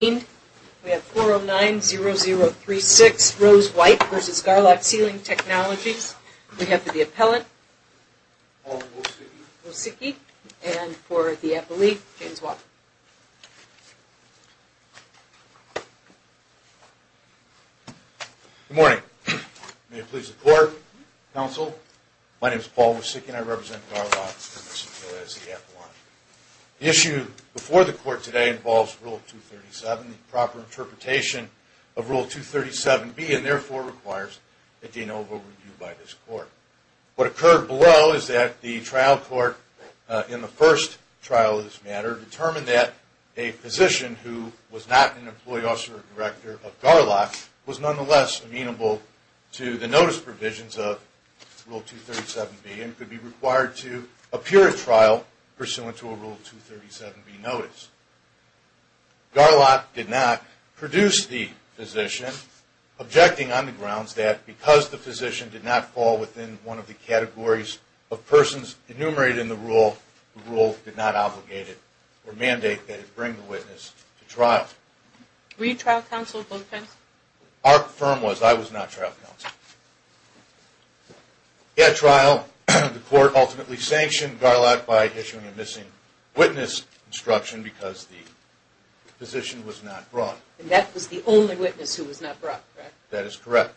We have 4090036 Rose White v. Garlock Sealing Technologies. We have for the appellant, Paul Wosicki, and for the appellee, James Walker. Good morning. May it please the Court, Counsel, my name is Paul Wosicki and I represent Garlock Sealing Technologies. The issue before the Court today involves Rule 237, the proper interpretation of Rule 237B, and therefore requires a de novo review by this Court. What occurred below is that the trial court in the first trial of this matter determined that a physician who was not an employee officer or director of Garlock was nonetheless amenable to the notice provisions of Rule 237B and could be required to appear at trial pursuant to a Rule 237B notice. Garlock did not produce the physician, objecting on the grounds that because the physician did not fall within one of the categories of persons enumerated in the rule, the rule did not obligate it or mandate that it bring the witness to trial. Were you trial counsel at both times? Our firm was. I was not trial counsel. At trial, the Court ultimately sanctioned Garlock by issuing a missing witness instruction because the physician was not brought. And that was the only witness who was not brought, correct? That is correct.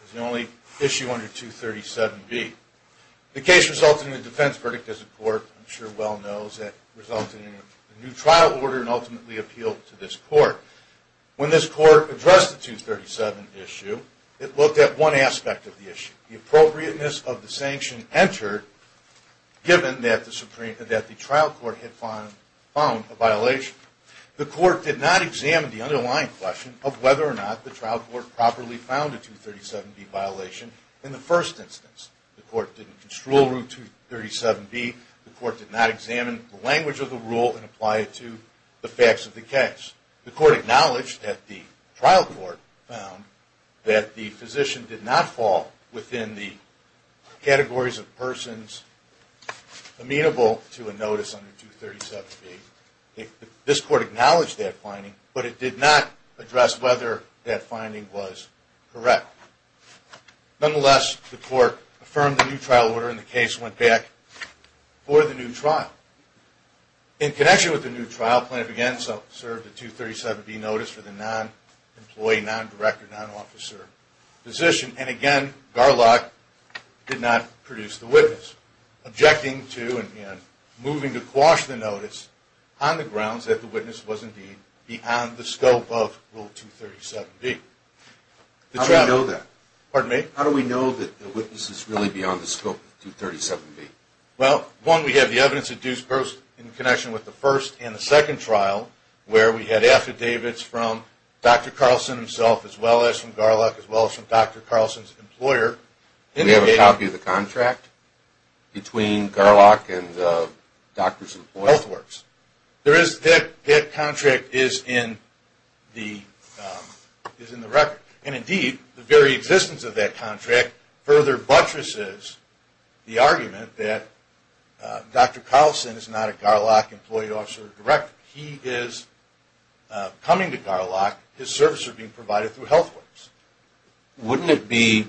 It was the only issue under 237B. The case resulted in a defense verdict as the Court I'm sure well knows that resulted in a new trial order and ultimately appealed to this Court. When this Court addressed the 237 issue, it looked at one aspect of the issue, the appropriateness of the sanction entered given that the trial court had found a violation. The Court did not examine the underlying question of whether or not the trial court properly found a 237B violation in the first instance. The Court did not construe 237B. The Court did not examine the language of the rule and apply it to the facts of the case. The Court acknowledged that the trial court found that the physician did not fall within the categories of persons amenable to a notice under 237B. This Court acknowledged that finding, but it did not address whether that finding was correct. Nonetheless, the Court affirmed the new trial order and the case went back for the new trial. In connection with the new trial, plaintiff again served a 237B notice for the non-employee, non-director, non-officer physician. And again, Garlock did not produce the witness, objecting to and moving to quash the notice on the grounds that the witness was indeed beyond the scope of Rule 237B. How do we know that? Pardon me? How do we know that the witness is really beyond the scope of 237B? Well, one, we have the evidence-induced burst in connection with the first and the second trial, where we had affidavits from Dr. Carlson himself, as well as from Garlock, as well as from Dr. Carlson's employer. Do we have a copy of the contract between Garlock and the doctor's employer? There is. That contract is in the record. And indeed, the very existence of that contract further buttresses the argument that Dr. Carlson is not a Garlock employee, officer, or director. He is coming to Garlock. His services are being provided through Health Works. Wouldn't it be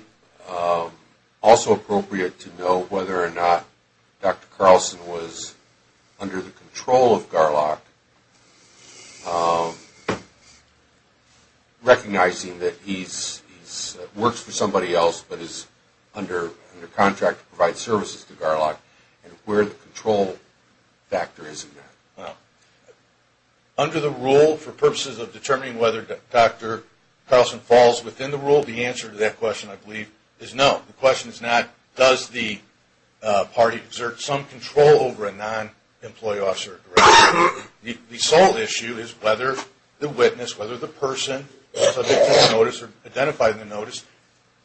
also appropriate to know whether or not Dr. Carlson was under the control of Garlock, recognizing that he works for somebody else but is under contract to provide services to Garlock, and where the control factor is in that? Under the rule, for purposes of determining whether Dr. Carlson falls within the rule, the answer to that question, I believe, is no. The question is not, does the party exert some control over a non-employee, officer, or director. The sole issue is whether the witness, whether the person subject to the notice or identified in the notice,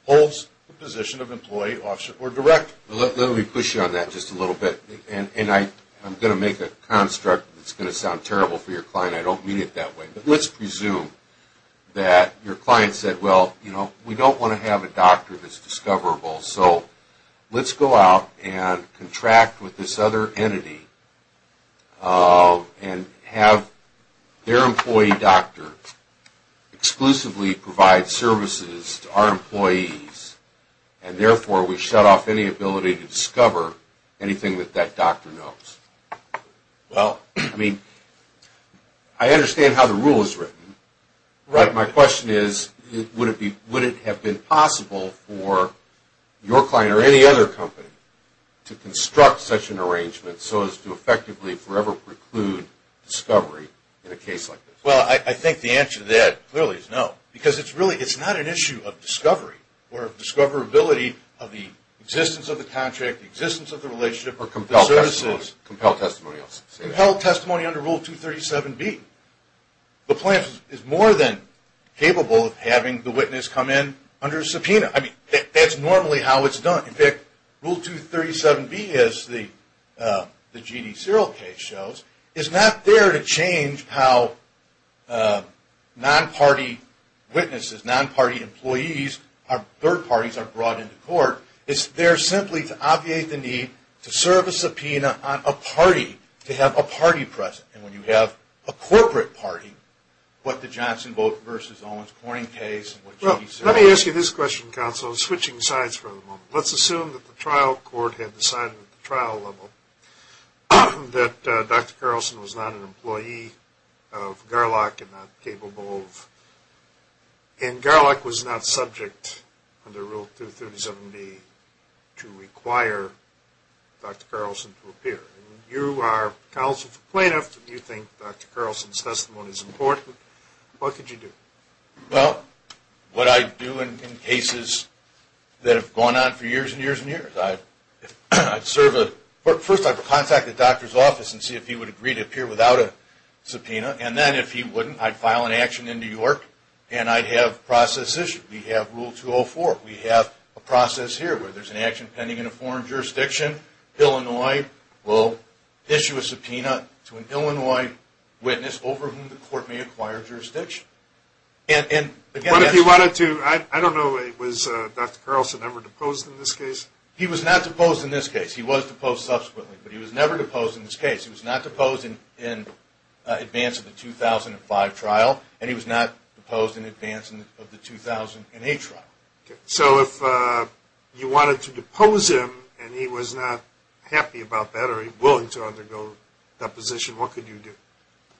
holds the position of employee, officer, or director. Let me push you on that just a little bit. And I'm going to make a construct that's going to sound terrible for your client. I don't mean it that way. But let's presume that your client said, well, you know, we don't want to have a doctor that's discoverable. So let's go out and contract with this other entity and have their employee doctor exclusively provide services to our employees. And therefore, we shut off any ability to discover anything that that doctor knows. Well, I mean, I understand how the rule is written. But my question is, would it have been possible for your client or any other company to construct such an arrangement so as to effectively forever preclude discovery in a case like this? Well, I think the answer to that clearly is no. Because it's not an issue of discovery or discoverability of the existence of the contract, the existence of the relationship, or the services. Or compelled testimony. Compelled testimony under Rule 237B. The plaintiff is more than capable of having the witness come in under a subpoena. I mean, that's normally how it's done. In fact, Rule 237B, as the G.D. Serial case shows, is not there to change how non-party witnesses, non-party employees, or third parties are brought into court. It's there simply to obviate the need to serve a subpoena on a party to have a party present. And when you have a corporate party, what the Johnson v. Owens Corning case and what G.D. Serial. Let me ask you this question, counsel. I'm switching sides for the moment. Let's assume that the trial court had decided at the trial level that Dr. Carlson was not an employee of GARLOC and not capable of – and GARLOC was not subject under Rule 237B to require Dr. Carlson to appear. You are counsel for plaintiffs. You think Dr. Carlson's testimony is important. What could you do? Well, what I'd do in cases that have gone on for years and years and years. I'd serve a – first, I'd contact the doctor's office and see if he would agree to appear without a subpoena. And then, if he wouldn't, I'd file an action in New York and I'd have a process issued. We have Rule 204. We have a process here where there's an action pending in a foreign jurisdiction. Illinois will issue a subpoena to an Illinois witness over whom the court may acquire jurisdiction. And – What if he wanted to – I don't know, was Dr. Carlson ever deposed in this case? He was not deposed in this case. He was deposed subsequently, but he was never deposed in this case. He was not deposed in advance of the 2005 trial, and he was not deposed in advance of the 2008 trial. So, if you wanted to depose him and he was not happy about that or willing to undergo deposition, what could you do?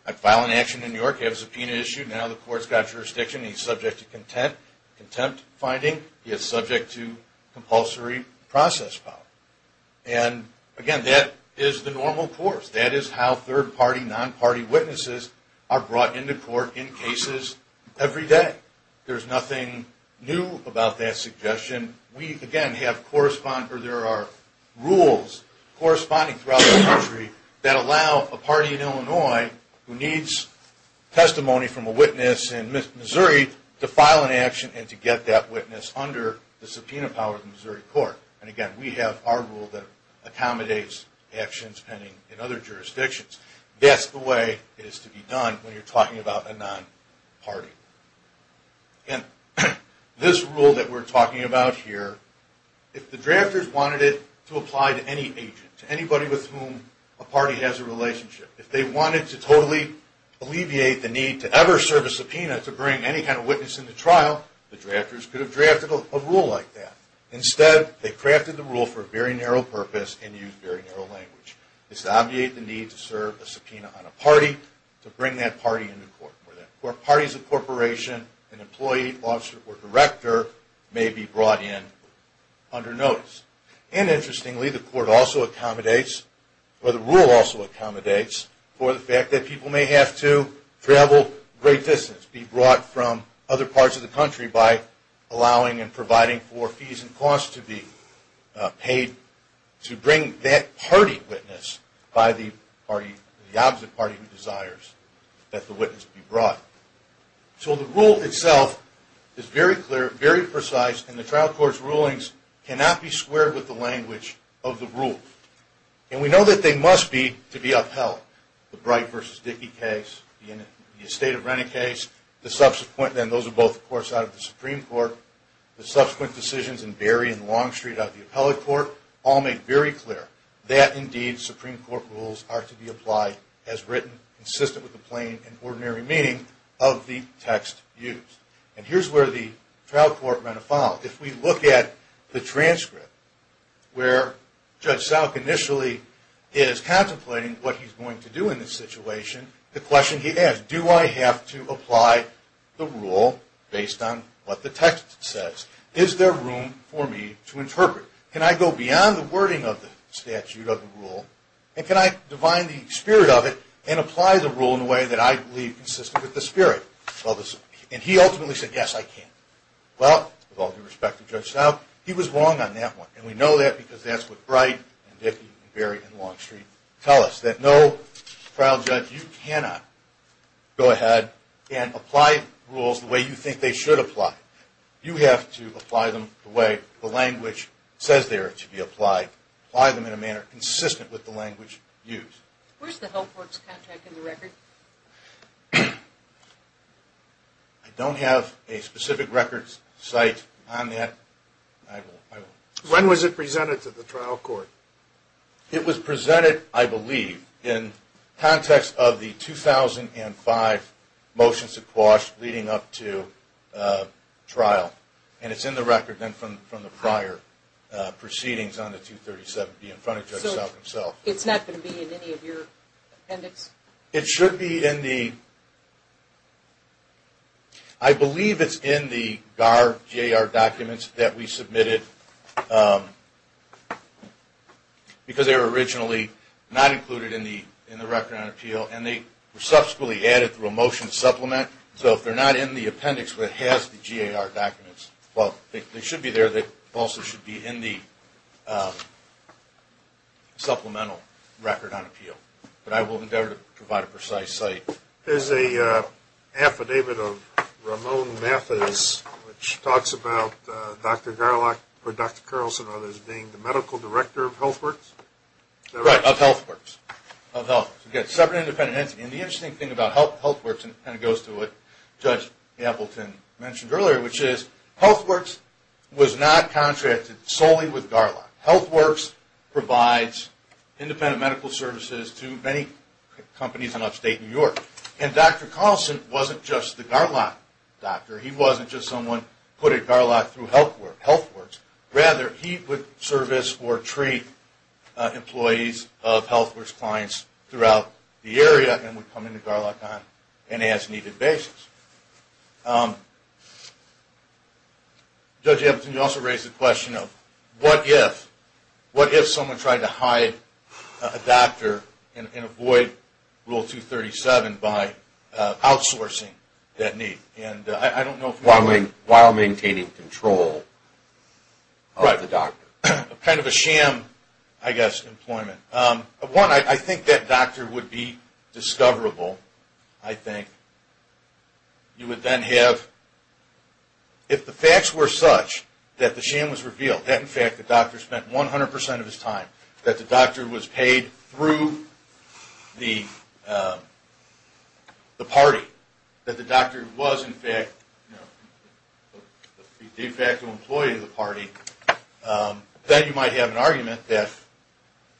I'd file an action in New York. You have a subpoena issued. Now the court's got jurisdiction. He's subject to contempt finding. He is subject to compulsory process power. And, again, that is the normal course. That is how third-party, non-party witnesses are brought into court in cases every day. There's nothing new about that suggestion. We, again, have – there are rules corresponding throughout the country that allow a party in Illinois who needs testimony from a witness in Missouri to file an action and to get that witness under the subpoena power of the Missouri court. And, again, we have our rule that accommodates actions pending in other jurisdictions. That's the way it is to be done when you're talking about a non-party. Again, this rule that we're talking about here, if the drafters wanted it to apply to any agent, to anybody with whom a party has a relationship, if they wanted to totally alleviate the need to ever serve a subpoena to bring any kind of witness into trial, the drafters could have drafted a rule like that. Instead, they crafted the rule for a very narrow purpose and used very narrow language. It's to alleviate the need to serve a subpoena on a party to bring that party into court where parties of corporation, an employee, officer, or director may be brought in under notice. And, interestingly, the court also accommodates, or the rule also accommodates, for the fact that people may have to travel great distances, be brought from other parts of the country by allowing and providing for fees and costs to be paid to bring that party witness by the opposite party who desires that the witness be brought. So the rule itself is very clear, very precise, and the trial court's rulings cannot be squared with the language of the rule. And we know that they must be to be upheld. The Bright v. Dickey case, the estate of rent-a-case, the subsequent – and those are both, of course, out of the Supreme Court – the subsequent decisions in Berry and Longstreet out of the appellate court all make very clear that, indeed, Supreme Court rules are to be applied as written, consistent with the plain and ordinary meaning of the text used. And here's where the trial court run afoul. If we look at the transcript where Judge Salk initially is contemplating what he's going to do in this situation, the question he asks, do I have to apply the rule based on what the text says? Is there room for me to interpret? Can I go beyond the wording of the statute of the rule, and can I divine the spirit of it and apply the rule in a way that I believe consistent with the spirit? And he ultimately said, yes, I can. Well, with all due respect to Judge Salk, he was wrong on that one. And we know that because that's what Bright v. Dickey and Berry v. Longstreet tell us. That no trial judge, you cannot go ahead and apply rules the way you think they should apply. You have to apply them the way the language says they are to be applied, apply them in a manner consistent with the language used. Where's the Health Works contract in the record? I don't have a specific records site on that. When was it presented to the trial court? It was presented, I believe, in context of the 2005 motions of quash leading up to trial. And it's in the record then from the prior proceedings on the 237B in front of Judge Salk himself. It's not going to be in any of your appendix? It should be in the, I believe it's in the GAR, G-A-R documents that we submitted because they were originally not included in the record on appeal. And they were subsequently added through a motion to supplement. So if they're not in the appendix that has the GAR documents, well, they should be there. They also should be in the supplemental record on appeal. But I will endeavor to provide a precise site. There's an affidavit of Ramon Mathis which talks about Dr. Garlock or Dr. Carlson or others being the medical director of Health Works? Right, of Health Works. Again, separate and independent entity. And the interesting thing about Health Works, and it kind of goes to what Judge Appleton mentioned earlier, which is Health Works was not contracted solely with Garlock. Health Works provides independent medical services to many companies in upstate New York. And Dr. Carlson wasn't just the Garlock doctor. He wasn't just someone put at Garlock through Health Works. Rather, he would service or treat employees of Health Works clients throughout the area and would come into Garlock on an as-needed basis. Judge Appleton, you also raised the question of what if. What if someone tried to hide a doctor and avoid Rule 237 by outsourcing that need? While maintaining control of the doctor. Right. Kind of a sham, I guess, employment. One, I think that doctor would be discoverable. I think you would then have, if the facts were such that the sham was revealed, that in fact the doctor spent 100% of his time, that the doctor was paid through the party, that the doctor was in fact the de facto employee of the party, then you might have an argument that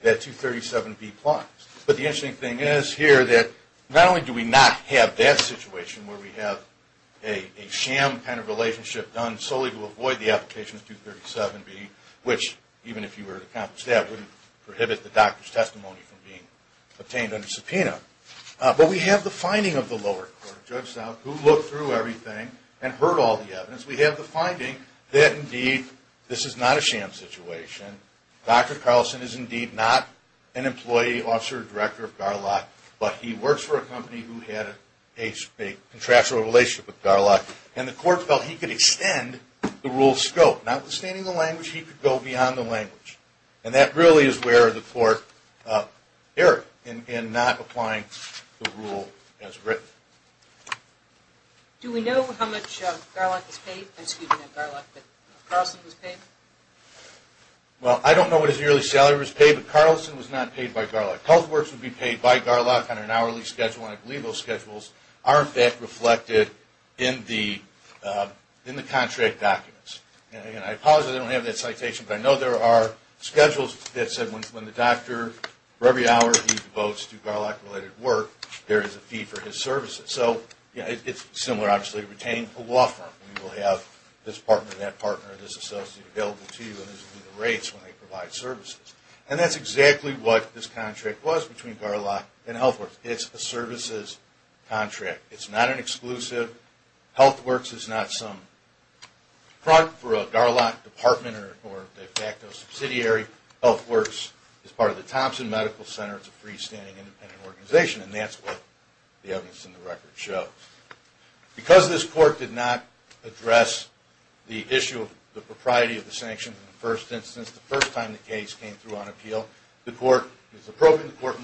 237B applies. But the interesting thing is here that not only do we not have that situation where we have a sham kind of relationship done solely to avoid the application of 237B, which even if you were to accomplish that, wouldn't prohibit the doctor's testimony from being obtained under subpoena, but we have the finding of the lower court. Judges who looked through everything and heard all the evidence, we have the finding that indeed this is not a sham situation. Dr. Carlson is indeed not an employee, officer, or director of Garlock, but he works for a company who had a contractual relationship with Garlock, and the court felt he could extend the rule's scope. Notwithstanding the language, he could go beyond the language. And that really is where the court erred in not applying the rule as written. Do we know how much Garlock was paid? Excuse me, not Garlock, but Carlson was paid? Well, I don't know what his yearly salary was paid, but Carlson was not paid by Garlock. Health Works would be paid by Garlock on an hourly schedule, and I believe those schedules are in fact reflected in the contract documents. Again, I apologize I don't have that citation, but I know there are schedules that said when the doctor, for every hour he devotes to Garlock-related work, there is a fee for his services. So it's similar, obviously, to retaining a law firm. We will have this partner, that partner, this associate available to you, and those will be the rates when they provide services. And that's exactly what this contract was between Garlock and Health Works. It's a services contract. It's not an exclusive. Health Works is not some front for a Garlock department or a subsidiary. Health Works is part of the Thompson Medical Center. It's a freestanding, independent organization, and that's what the evidence in the record shows. Because this court did not address the issue of the propriety of the sanctions in the first instance, the first time the case came through on appeal, the court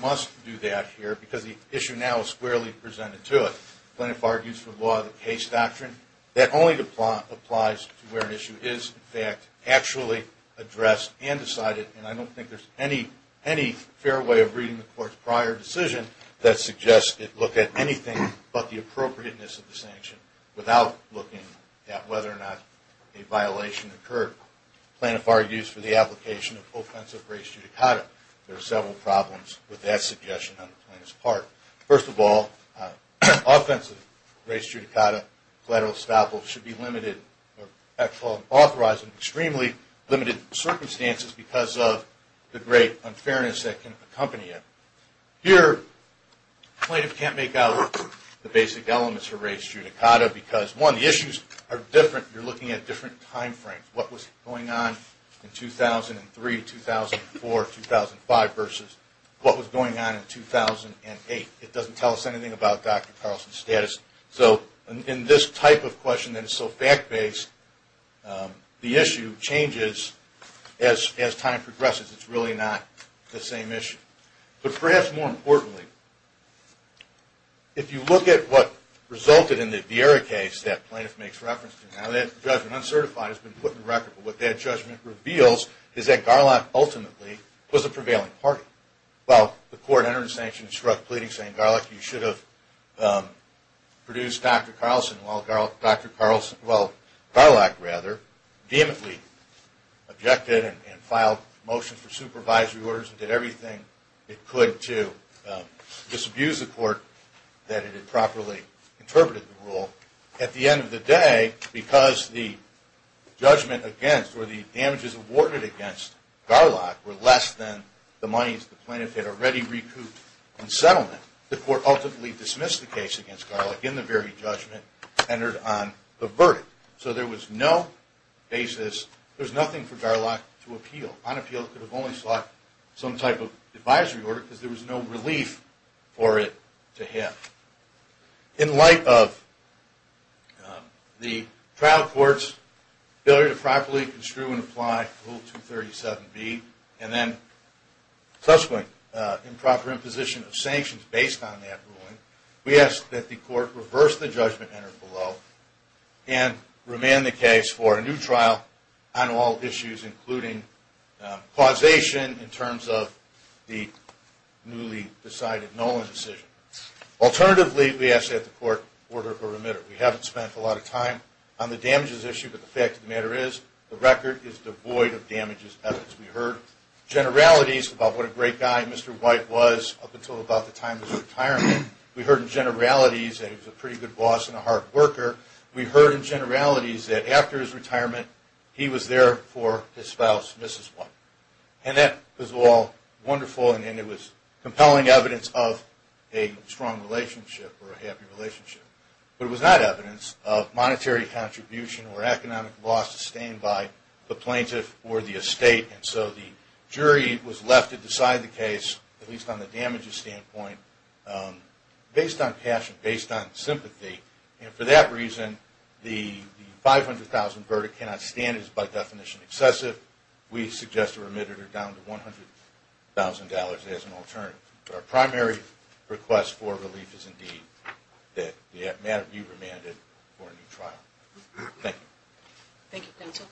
must do that here, because the issue now is squarely presented to it. Plaintiff argues for the law of the case doctrine. That only applies to where an issue is, in fact, actually addressed and decided, and I don't think there's any fair way of reading the court's prior decision that suggests it looked at anything but the appropriateness of the sanction without looking at whether or not a violation occurred. Plaintiff argues for the application of offensive race judicata. There are several problems with that suggestion on the plaintiff's part. First of all, offensive race judicata collateral estoppel should be limited or authorized in extremely limited circumstances because of the great unfairness that can accompany it. Here, plaintiff can't make out the basic elements of race judicata because, one, the issues are different. You're looking at different time frames. What was going on in 2003, 2004, 2005 versus what was going on in 2008. It doesn't tell us anything about Dr. Carlson's status. So in this type of question that is so fact-based, the issue changes as time progresses. It's really not the same issue. But perhaps more importantly, if you look at what resulted in the Vieira case that plaintiff makes reference to, now that judgment, uncertified, has been put on record. But what that judgment reveals is that Garlack ultimately was a prevailing party. Well, the court entered a sanction and struck pleading, saying, Garlack, you should have produced Dr. Carlson while Garlack vehemently objected and filed motions for supervisory orders and did everything it could to disabuse the court that it had properly interpreted the rule. At the end of the day, because the judgment against or the damages awarded against Garlack were less than the monies the plaintiff had already recouped in settlement, the court ultimately dismissed the case against Garlack in the very judgment centered on the verdict. So there was no basis, there was nothing for Garlack to appeal. On appeal, it could have only sought some type of advisory order because there was no relief for it to him. In light of the trial court's failure to properly construe and apply Rule 237B and then subsequent improper imposition of sanctions based on that ruling, we ask that the court reverse the judgment entered below and remand the case for a new trial on all issues including causation in terms of the newly decided Nolan decision. Alternatively, we ask that the court order a remitter. We haven't spent a lot of time on the damages issue, but the fact of the matter is the record is devoid of damages evidence. We heard generalities about what a great guy Mr. White was up until about the time of his retirement. We heard generalities that he was a pretty good boss and a hard worker. We heard generalities that after his retirement, he was there for his spouse, Mrs. White. And that was all wonderful and it was compelling evidence of a strong relationship or a happy relationship. But it was not evidence of monetary contribution or economic loss sustained by the plaintiff or the estate. And so the jury was left to decide the case, at least on the damages standpoint, based on passion, based on sympathy. And for that reason, the 500,000 verdict cannot stand is by definition excessive. We suggest a remitter down to $100,000 as an alternative. But our primary request for relief is indeed that the matter be remanded for a new trial. Thank you. Thank you, counsel.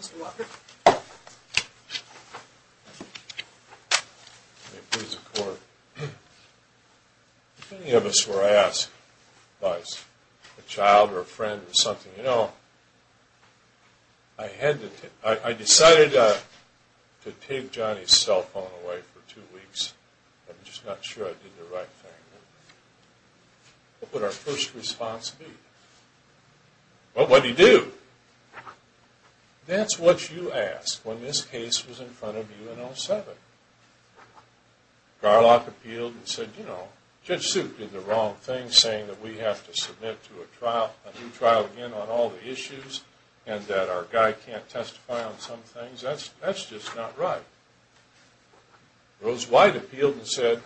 Mr. Walker. May it please the court. Many of us were asked by a child or a friend or something, you know, I decided to take Johnny's cell phone away for two weeks. I'm just not sure I did the right thing. What would our first response be? Well, what do you do? That's what you ask when this case was in front of you in 07. Garlock appealed and said, you know, Judge Suit did the wrong thing, saying that we have to submit to a new trial again on all the issues and that our guy can't testify on some things. That's just not right. Rose White appealed and said,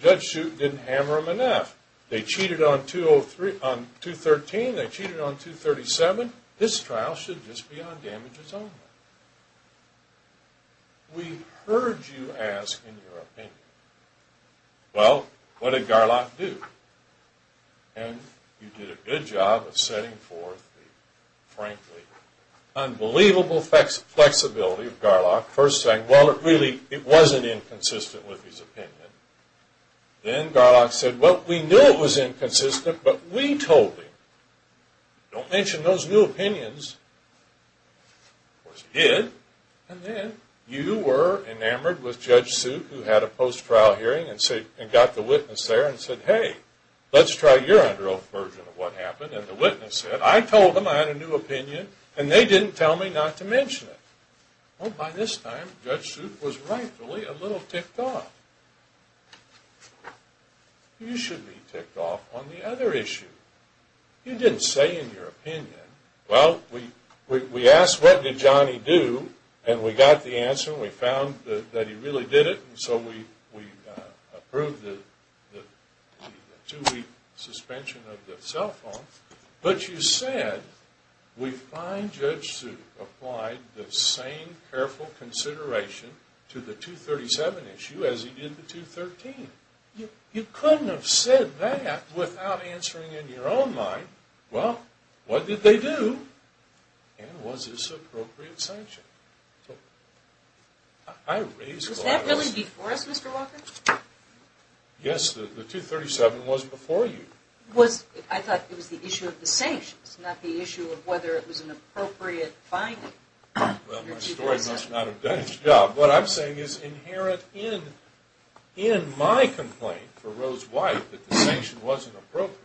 Judge Suit didn't hammer them enough. They cheated on 213, they cheated on 237. This trial should just be on damages only. We heard you ask in your opinion. Well, what did Garlock do? And you did a good job of setting forth the frankly unbelievable flexibility of Garlock, first saying, well, it really wasn't inconsistent with his opinion. Then Garlock said, well, we knew it was inconsistent, but we told him. Don't mention those new opinions. Of course, he did. And then you were enamored with Judge Suit who had a post-trial hearing and got the witness there and said, hey, let's try your under oath version of what happened. And the witness said, I told them I had a new opinion, and they didn't tell me not to mention it. Well, by this time, Judge Suit was rightfully a little ticked off. You should be ticked off on the other issue. You didn't say in your opinion, well, we asked what did Johnny do, and we got the answer and we found that he really did it, and so we approved the two-week suspension of the cell phone. But you said we find Judge Suit applied the same careful consideration to the 237 issue as he did the 213. You couldn't have said that without answering in your own mind, well, what did they do, and was this appropriate sanction? Was that really before us, Mr. Walker? Yes, the 237 was before you. I thought it was the issue of the sanctions, not the issue of whether it was an appropriate finding. Well, my story must not have done its job. What I'm saying is inherent in my complaint for Rose White that the sanction wasn't appropriate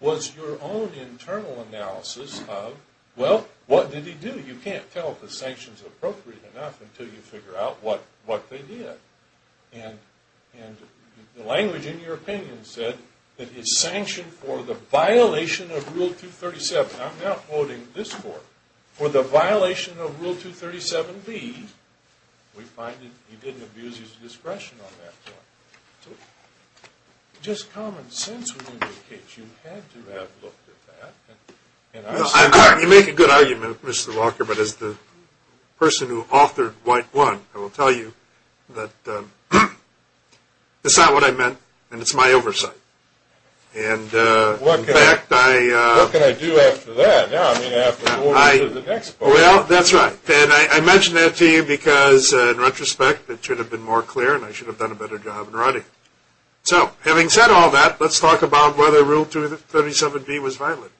was your own internal analysis of, well, what did he do? You can't tell if the sanction's appropriate enough until you figure out what they did. And the language in your opinion said that it's sanctioned for the violation of Rule 237. I'm now quoting this court. For the violation of Rule 237B, we find that he didn't abuse his discretion on that point. So just common sense would indicate you had to have looked at that. You make a good argument, Mr. Walker, but as the person who authored White 1, I will tell you that it's not what I meant and it's my oversight. What can I do after that? Well, that's right. And I mention that to you because in retrospect it should have been more clear and I should have done a better job in writing. So having said all that, let's talk about whether Rule 237B was violated.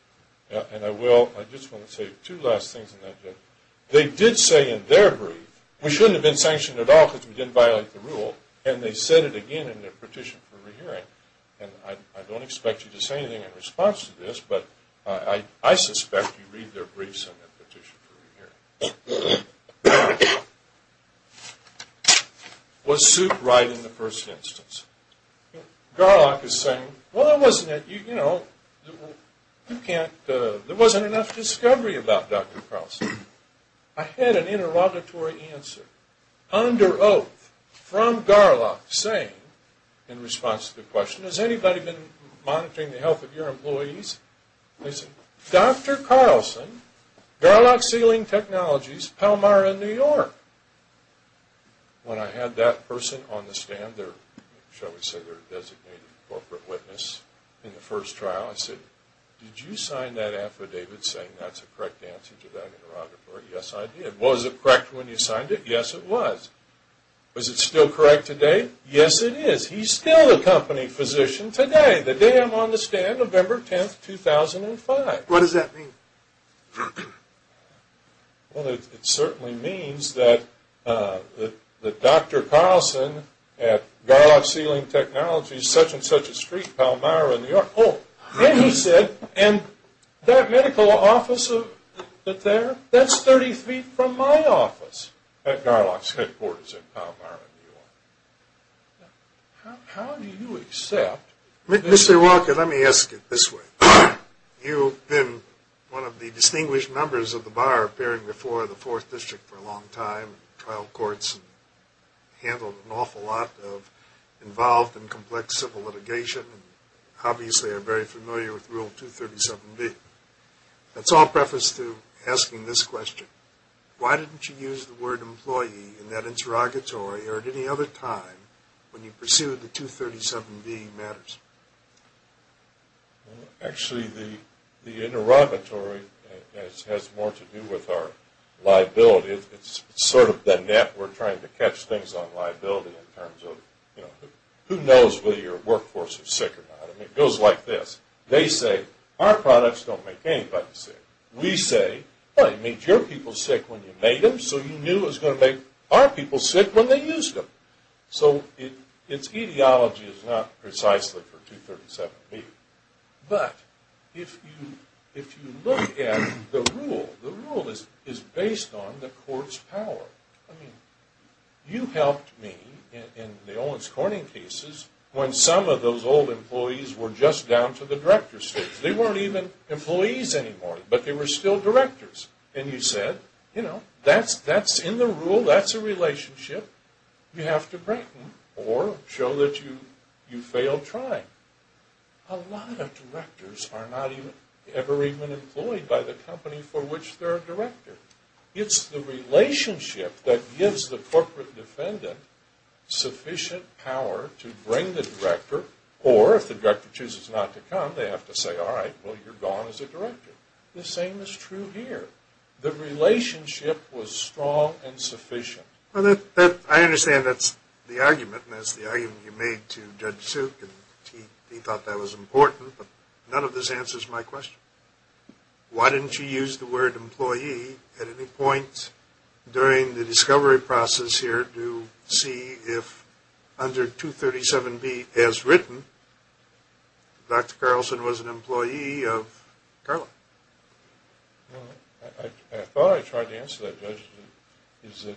And I will. I just want to say two last things on that, Judge. They did say in their brief we shouldn't have been sanctioned at all because we didn't violate the rule, and they said it again in their petition for re-hearing. And I don't expect you to say anything in response to this, but I suspect you read their briefs in their petition for re-hearing. Was Supe right in the first instance? Garlock is saying, well, there wasn't enough discovery about Dr. Carlson. I had an interrogatory answer under oath from Garlock saying, in response to the question, has anybody been monitoring the health of your employees? They said, Dr. Carlson, Garlock Sealing Technologies, Palmyra, New York. When I had that person on the stand, shall we say their designated corporate witness in the first trial, I said, did you sign that affidavit saying that's a correct answer to that interrogatory? Yes, I did. Was it correct when you signed it? Yes, it was. Was it still correct today? Yes, it is. He's still the company physician today, the day I'm on the stand, November 10, 2005. What does that mean? Well, it certainly means that Dr. Carlson at Garlock Sealing Technologies, such and such a street, Palmyra, New York. Oh, and he said, and that medical office there, that's 30 feet from my office at Garlock headquarters in Palmyra, New York. How do you accept this? Mr. Walker, let me ask it this way. You've been one of the distinguished members of the bar appearing before the 4th District for a long time, handled an awful lot of involved and complex civil litigation, and obviously are very familiar with Rule 237B. Let's all preface to asking this question. Why didn't you use the word employee in that interrogatory or at any other time when you pursued the 237B matters? Actually, the interrogatory has more to do with our liability. It's sort of the net we're trying to catch things on liability in terms of, you know, who knows whether your workforce is sick or not. I mean, it goes like this. They say, our products don't make anybody sick. We say, well, it made your people sick when you made them, so you knew it was going to make our people sick when they used them. So its etiology is not precisely for 237B. But if you look at the rule, the rule is based on the court's power. I mean, you helped me in the Owens Corning cases when some of those old employees were just down to the director's stage. They weren't even employees anymore, but they were still directors. And you said, you know, that's in the rule. That's a relationship. You have to break them or show that you failed trying. A lot of directors are not ever even employed by the company for which they're a director. It's the relationship that gives the corporate defendant sufficient power to bring the director, or if the director chooses not to come, they have to say, all right, well, you're gone as a director. The same is true here. The relationship was strong and sufficient. Well, I understand that's the argument, and that's the argument you made to Judge Suk, and he thought that was important, but none of this answers my question. Why didn't you use the word employee at any point during the discovery process here to see if, under 237B as written, Dr. Carlson was an employee of Carla? Well, I thought I tried to answer that, Judge. The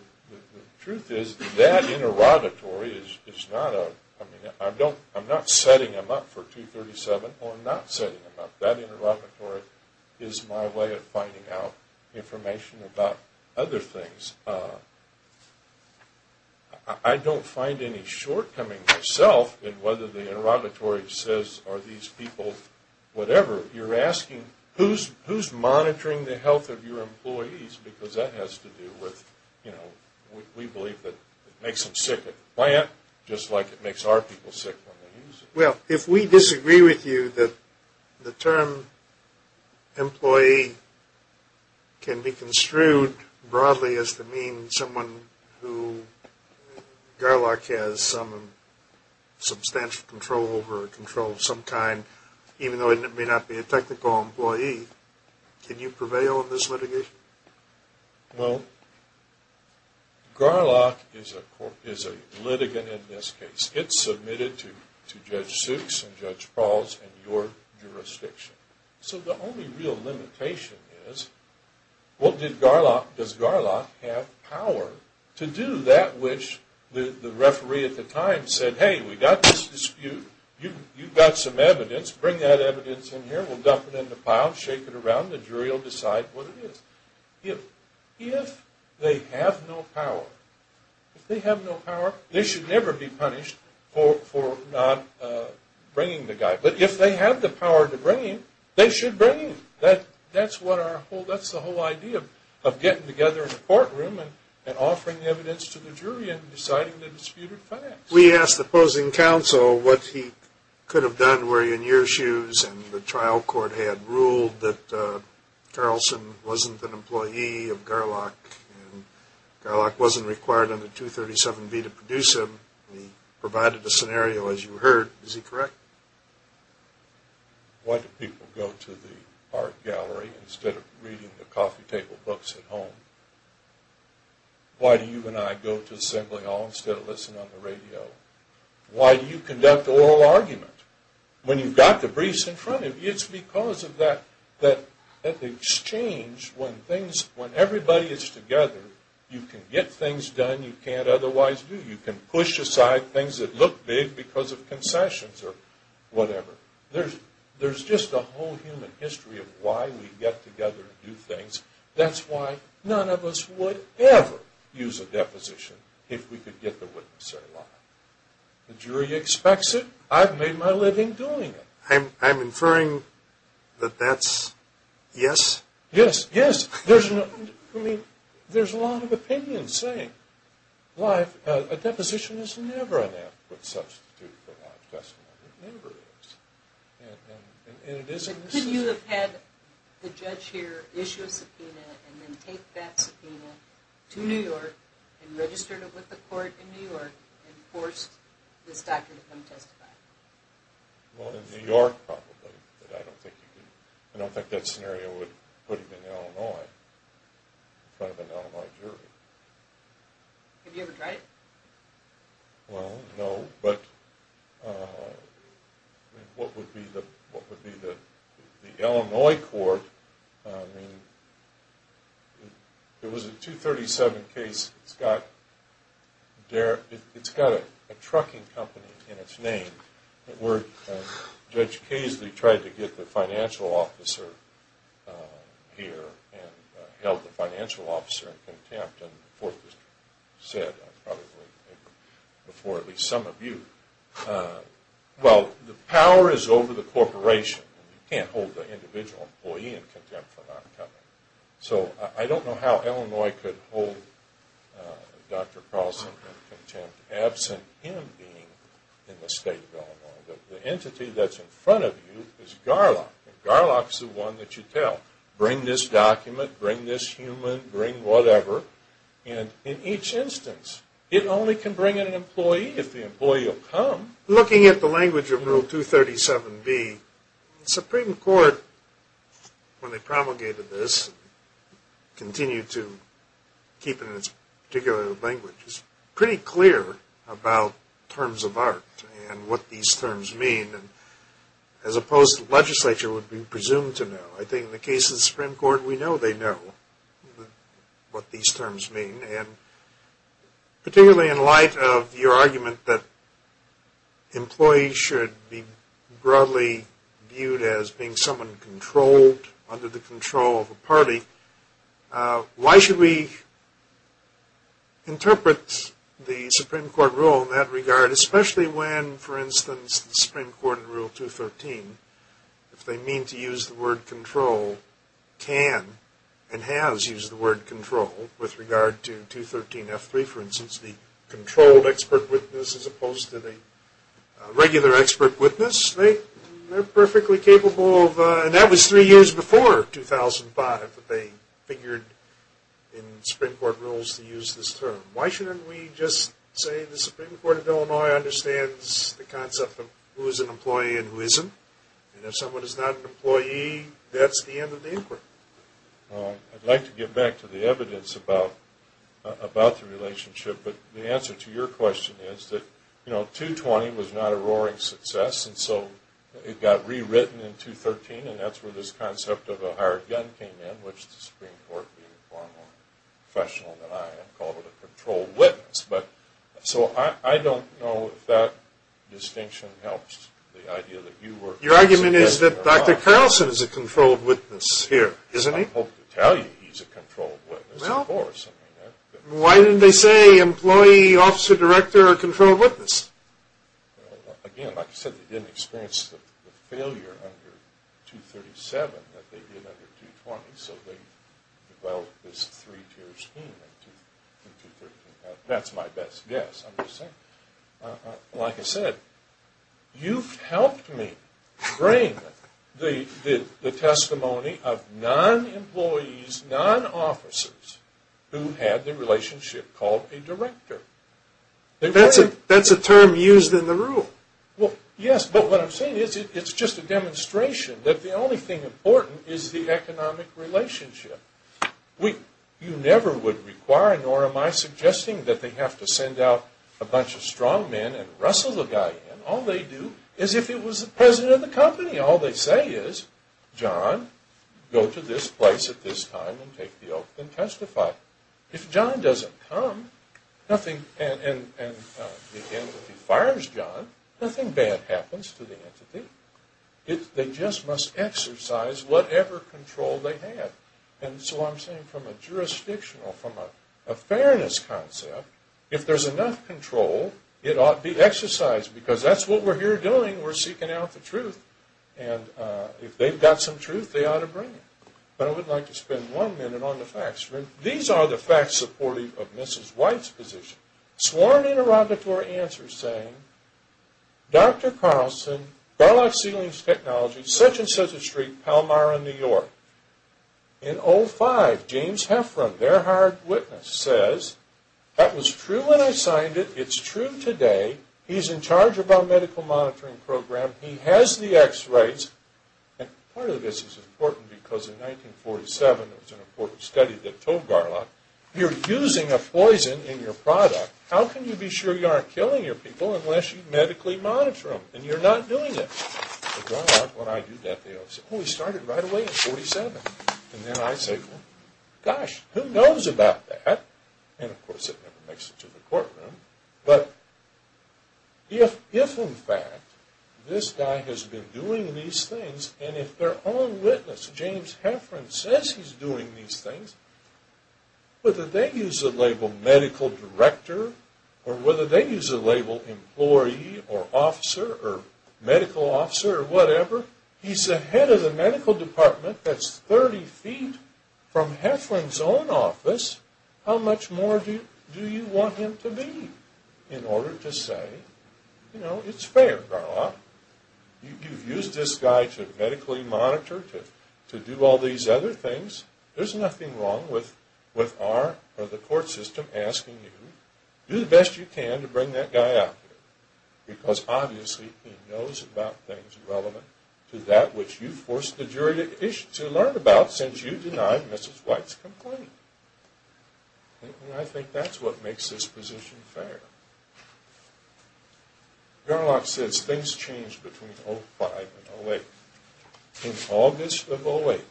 truth is that interrogatory is not a, I mean, I'm not setting him up for 237. I'm not setting him up. That interrogatory is my way of finding out information about other things. I don't find any shortcomings myself in whether the interrogatory says are these people whatever. You're asking who's monitoring the health of your employees because that has to do with, you know, we believe that it makes them sick at the plant just like it makes our people sick when they use it. Well, if we disagree with you that the term employee can be construed broadly as to mean someone who, if Garlock has some substantial control over or controls some kind, even though it may not be a technical employee, can you prevail in this litigation? Well, Garlock is a litigant in this case. It's submitted to Judge Suk and Judge Prowse and your jurisdiction. So the only real limitation is does Garlock have power to do that which the referee at the time said, hey, we've got this dispute, you've got some evidence, bring that evidence in here, we'll dump it in the pile, shake it around, the jury will decide what it is. If they have no power, if they have no power, they should never be punished for not bringing the guy. But if they have the power to bring him, they should bring him. That's what our whole, that's the whole idea of getting together in the courtroom and offering evidence to the jury and deciding the disputed facts. We asked the opposing counsel what he could have done were he in your shoes and the trial court had ruled that Carlson wasn't an employee of Garlock and Garlock wasn't required under 237B to produce him. We provided the scenario as you heard. Is he correct? Why do people go to the art gallery instead of reading the coffee table books at home? Why do you and I go to the assembly hall instead of listening on the radio? Why do you conduct oral argument when you've got the briefs in front of you? It's because of that exchange when things, when everybody is together, you can get things done you can't otherwise do. You can push aside things that look big because of concessions or whatever. There's just a whole human history of why we get together and do things. That's why none of us would ever use a deposition if we could get the witness alive. The jury expects it. I've made my living doing it. I'm inferring that that's yes? Yes, yes. There's a lot of opinions saying life, but a deposition is never an adequate substitute for a live testimony. It never is. Could you have had the judge here issue a subpoena and then take that subpoena to New York and registered it with the court in New York and forced this doctor to come testify? In New York probably, but I don't think you could. I don't think that scenario would put him in Illinois in front of an Illinois jury. Have you ever tried it? Well, no, but what would be the Illinois court? I mean, it was a 237 case. It's got a trucking company in its name. Judge Casely tried to get the financial officer here and held the financial officer in contempt and the court said probably before at least some of you, well, the power is over the corporation. You can't hold the individual employee in contempt for not coming. So I don't know how Illinois could hold Dr. Carlson in contempt absent him being in the state of Illinois. The entity that's in front of you is Garlock, and Garlock's the one that you tell, bring this document, bring this human, bring whatever. And in each instance, it only can bring in an employee if the employee will come. Looking at the language of Rule 237B, the Supreme Court, when they promulgated this, continued to keep it in its particular language. It's pretty clear about terms of art and what these terms mean as opposed to what the legislature would be presumed to know. I think in the case of the Supreme Court, we know they know what these terms mean, and particularly in light of your argument that employees should be broadly viewed as being someone controlled under the control of a party. Why should we interpret the Supreme Court rule in that regard, especially when, for instance, the Supreme Court in Rule 213, if they mean to use the word control, can and has used the word control with regard to 213F3, for instance, the controlled expert witness, as opposed to the regular expert witness. They're perfectly capable of, and that was three years before 2005 that they figured in Supreme Court rules to use this term. Why shouldn't we just say the Supreme Court of Illinois understands the concept of who is an employee and who isn't, and if someone is not an employee, that's the end of the inquiry? I'd like to get back to the evidence about the relationship, but the answer to your question is that 220 was not a roaring success, and so it got rewritten in 213, and that's where this concept of a hired gun came in, which the Supreme Court, being far more professional than I am, called it a controlled witness. So I don't know if that distinction helps the idea that you were... Your argument is that Dr. Carlson is a controlled witness here, isn't he? I hope to tell you he's a controlled witness, of course. Why didn't they say employee, officer, director, or controlled witness? Again, like I said, they didn't experience the failure under 237 that they did under 220, so they developed this three-tier scheme in 213. That's my best guess, I'm just saying. Like I said, you've helped me bring the testimony of non-employees, non-officers, who had the relationship called a director. That's a term used in the rule. Yes, but what I'm saying is it's just a demonstration that the only thing important is the economic relationship. You never would require, nor am I suggesting, that they have to send out a bunch of strong men and wrestle the guy in. All they do is if he was the president of the company, all they say is, John, go to this place at this time and take the oath and testify. If John doesn't come and the entity fires John, nothing bad happens to the entity. They just must exercise whatever control they had. And so I'm saying from a jurisdictional, from a fairness concept, if there's enough control, it ought to be exercised, because that's what we're here doing, we're seeking out the truth. And if they've got some truth, they ought to bring it. But I would like to spend one minute on the facts. These are the facts supportive of Mrs. White's position. Sworn interrogatory answers saying, Dr. Carlson, Garlock Ceilings Technology, such-and-such a street, Palmyra, New York. In 05, James Heffron, their hired witness, says, That was true when I signed it. It's true today. He's in charge of our medical monitoring program. He has the X-rays. And part of this is important because in 1947, there was an important study that told Garlock, You're using a poison in your product. How can you be sure you aren't killing your people unless you medically monitor them? And you're not doing it. Garlock, when I do that, they always say, Oh, he started right away in 47. And then I say, Well, gosh, who knows about that? And, of course, it never makes it to the courtroom. But if, in fact, this guy has been doing these things, and if their own witness, James Heffron, says he's doing these things, whether they use the label medical director, or whether they use the label employee or officer or medical officer or whatever, he's the head of the medical department that's 30 feet from Heffron's own office. How much more do you want him to be in order to say, You know, it's fair, Garlock. You've used this guy to medically monitor, to do all these other things. There's nothing wrong with our or the court system asking you, Do the best you can to bring that guy out here. Because, obviously, he knows about things relevant to that which you forced the jury to learn about since you denied Mrs. White's complaint. And I think that's what makes this position fair. Garlock says things changed between 05 and 08. In August of 08,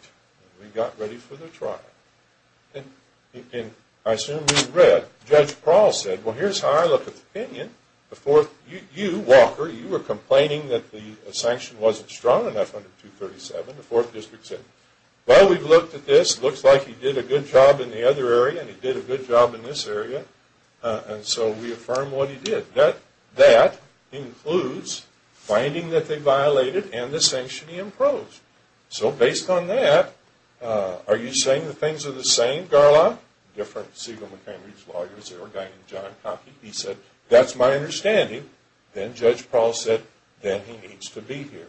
we got ready for the trial. And I assume you read. Judge Prowl said, Well, here's how I look at the opinion. You, Walker, you were complaining that the sanction wasn't strong enough under 237. The 4th District said, Well, we've looked at this. It looks like he did a good job in the other area, and he did a good job in this area. And so we affirm what he did. That includes finding that they violated and the sanction he imposed. So, based on that, are you saying the things are the same, Garlock? Different Siegel, McHenry's lawyers, there were a guy named John Cockey. He said, That's my understanding. Then Judge Prowl said, Then he needs to be here.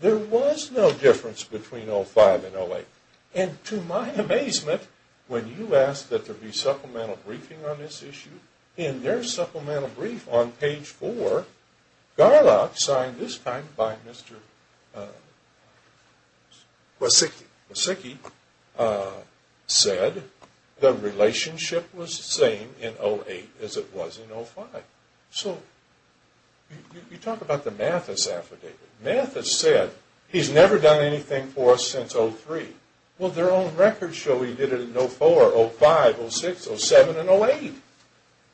There was no difference between 05 and 08. And to my amazement, when you asked that there be supplemental briefing on this issue, in their supplemental brief on page 4, Garlock, signed this time by Mr. Wasicki, said the relationship was the same in 08 as it was in 05. So you talk about the Mathis affidavit. Mathis said, He's never done anything for us since 03. Well, their own records show he did it in 04, 05, 06, 07, and 08.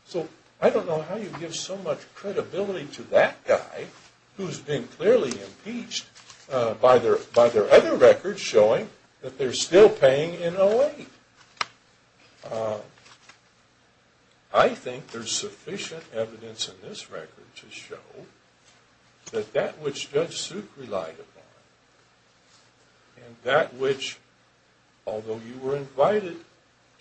So, I don't know how you give so much credibility to that guy, who's been clearly impeached by their other records showing that they're still paying in 08. I think there's sufficient evidence in this record to show that that which Judge Suk relied upon, and that which, although you were invited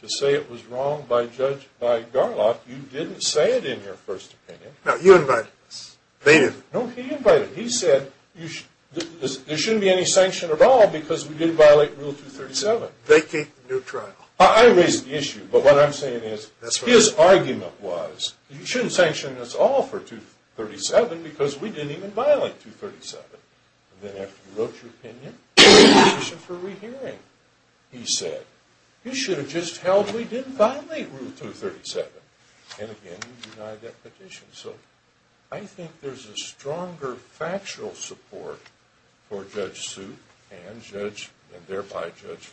to say it was wrong by Garlock, you didn't say it in your first opinion. No, you invited him. They didn't. No, he invited him. He said, There shouldn't be any sanction at all because we did violate Rule 237. They keep neutral. I raised the issue, but what I'm saying is, his argument was, You shouldn't sanction us all for 237 because we didn't even violate 237. And then after you wrote your opinion, there was a petition for re-hearing. He said, You should have just held we didn't violate Rule 237. And again, you denied that petition. So, I think there's a stronger factual support for Judge Suk, and thereby Judge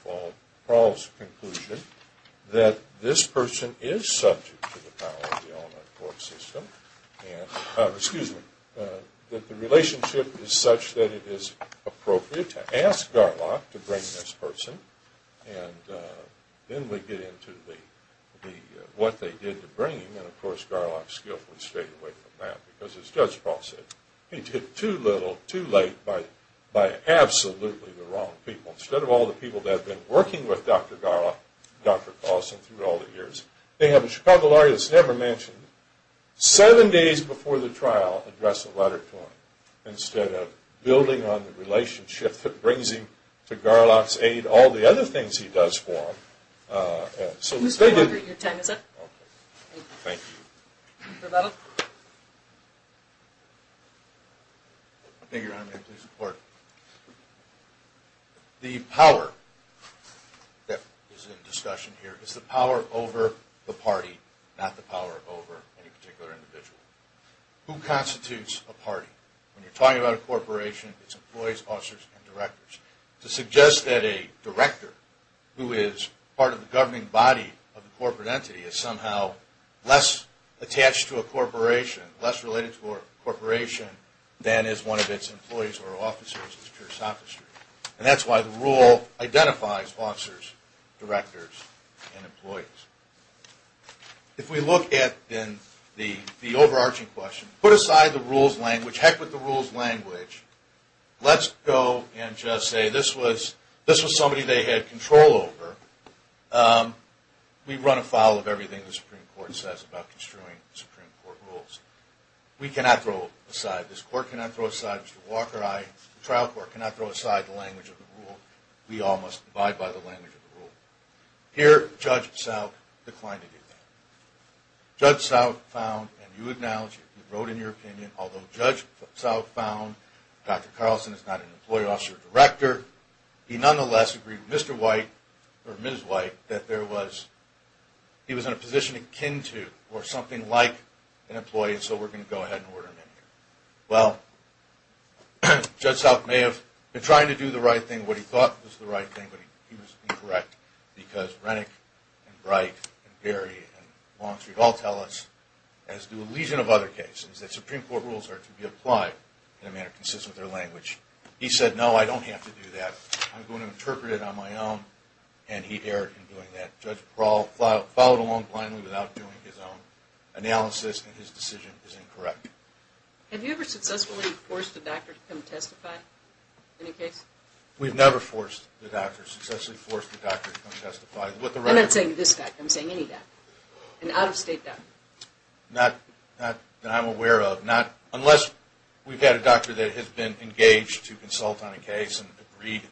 Fahl's conclusion, that this person is subject to the power of the All-American Court System, excuse me, that the relationship is such that it is appropriate to ask Garlock to bring this person, and then we get into what they did to bring him, and of course, Garlock skillfully stayed away from that, because as Judge Fahl said, he did too little, too late, by absolutely the wrong people. Instead of all the people that have been working with Dr. Garlock, Dr. Carlson, through all the years, they have a Chicago lawyer that's never mentioned, seven days before the trial, address a letter to him. Instead of building on the relationship that brings him to Garlock's aid, all the other things he does for him. So, they did... Who's phone number at your time, is it? Okay. Thank you. Mr. Levitt. Thank you, Your Honor. May it please the Court. The power that is in discussion here, is the power over the party, not the power over any particular individual. Who constitutes a party? When you're talking about a corporation, it's employees, officers, and directors. To suggest that a director, who is part of the governing body of the corporate entity, is somehow less attached to a corporation, less related to a corporation, than is one of its employees or officers, is pure sophistry. And that's why the rule identifies officers, directors, and employees. If we look at the overarching question, put aside the rules language, heck with the rules language, let's go and just say, this was somebody they had control over. We run afoul of everything the Supreme Court says about construing Supreme Court rules. We cannot throw aside, this Court cannot throw aside Mr. Walker, the trial court cannot throw aside the language of the rule. We all must abide by the language of the rule. Here, Judge South declined to do that. Judge South found, and you acknowledge it, you wrote in your opinion, although Judge South found Dr. Carlson is not an employee, officer, or director, he nonetheless agreed with Mr. White, or Ms. White, that there was, he was in a position akin to, or something like, an employee, and so we're going to go ahead and order him in here. Well, Judge South may have been trying to do the right thing, what he thought was the right thing, but he was incorrect, because Rennick, and Bright, and Berry, and Longstreet, all tell us, as do a legion of other cases, that Supreme Court rules are to be applied in a manner consistent with their language. He said, no, I don't have to do that. I'm going to interpret it on my own, and he erred in doing that. Judge Carl followed along blindly without doing his own analysis, and his decision is incorrect. Have you ever successfully forced a doctor to come testify in a case? We've never forced a doctor, successfully forced a doctor to come testify. I'm not saying this doctor, I'm saying any doctor. An out-of-state doctor. Not that I'm aware of. Not, unless we've had a doctor that has been engaged to consult on a case, and agreed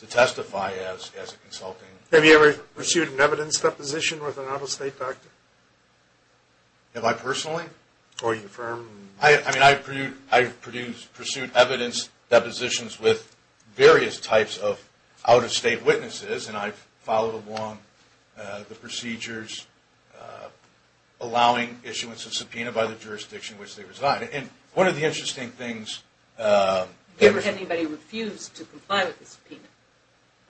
to testify as a consultant. Have you ever pursued an evidence deposition with an out-of-state doctor? Have I personally? Or your firm? I mean, I've pursued evidence depositions with various types of out-of-state witnesses, and I've followed along the procedures, allowing issuance of subpoena by the jurisdiction in which they reside. And one of the interesting things... Have you ever had anybody refuse to comply with the subpoena?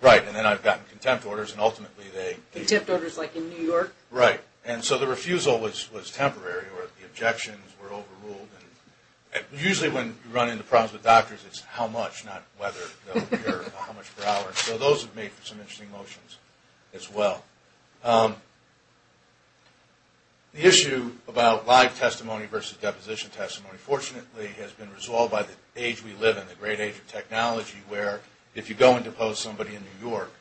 Right, and then I've gotten contempt orders, and ultimately they... Contempt orders like in New York? Right, and so the refusal was temporary, or the objections were overruled. And usually when you run into problems with doctors, it's how much, not whether they'll appear, or how much per hour. So those have made for some interesting motions as well. The issue about live testimony versus deposition testimony, fortunately has been resolved by the age we live in, the great age of technology, where if you go and depose somebody in New York,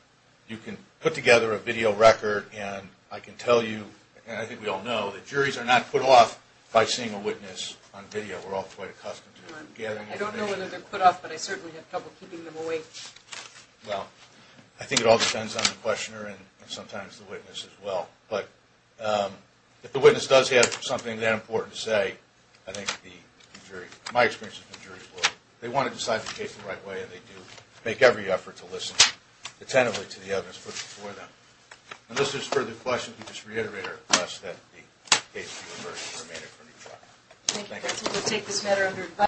you can put together a video record, and I can tell you, and I think we all know, that juries are not put off by seeing a witness on video. We're all quite accustomed to gathering information. I don't know whether they're put off, but I certainly have trouble keeping them awake. Well, I think it all depends on the questioner, and sometimes the witness as well. But if the witness does have something that important to say, I think the jury... My experience has been juries will... They want to decide the case the right way, and they do make every effort to listen attentively to the evidence put before them. And unless there's further questions, we just reiterate our request that the case be reversed and remanded for retrial. Thank you.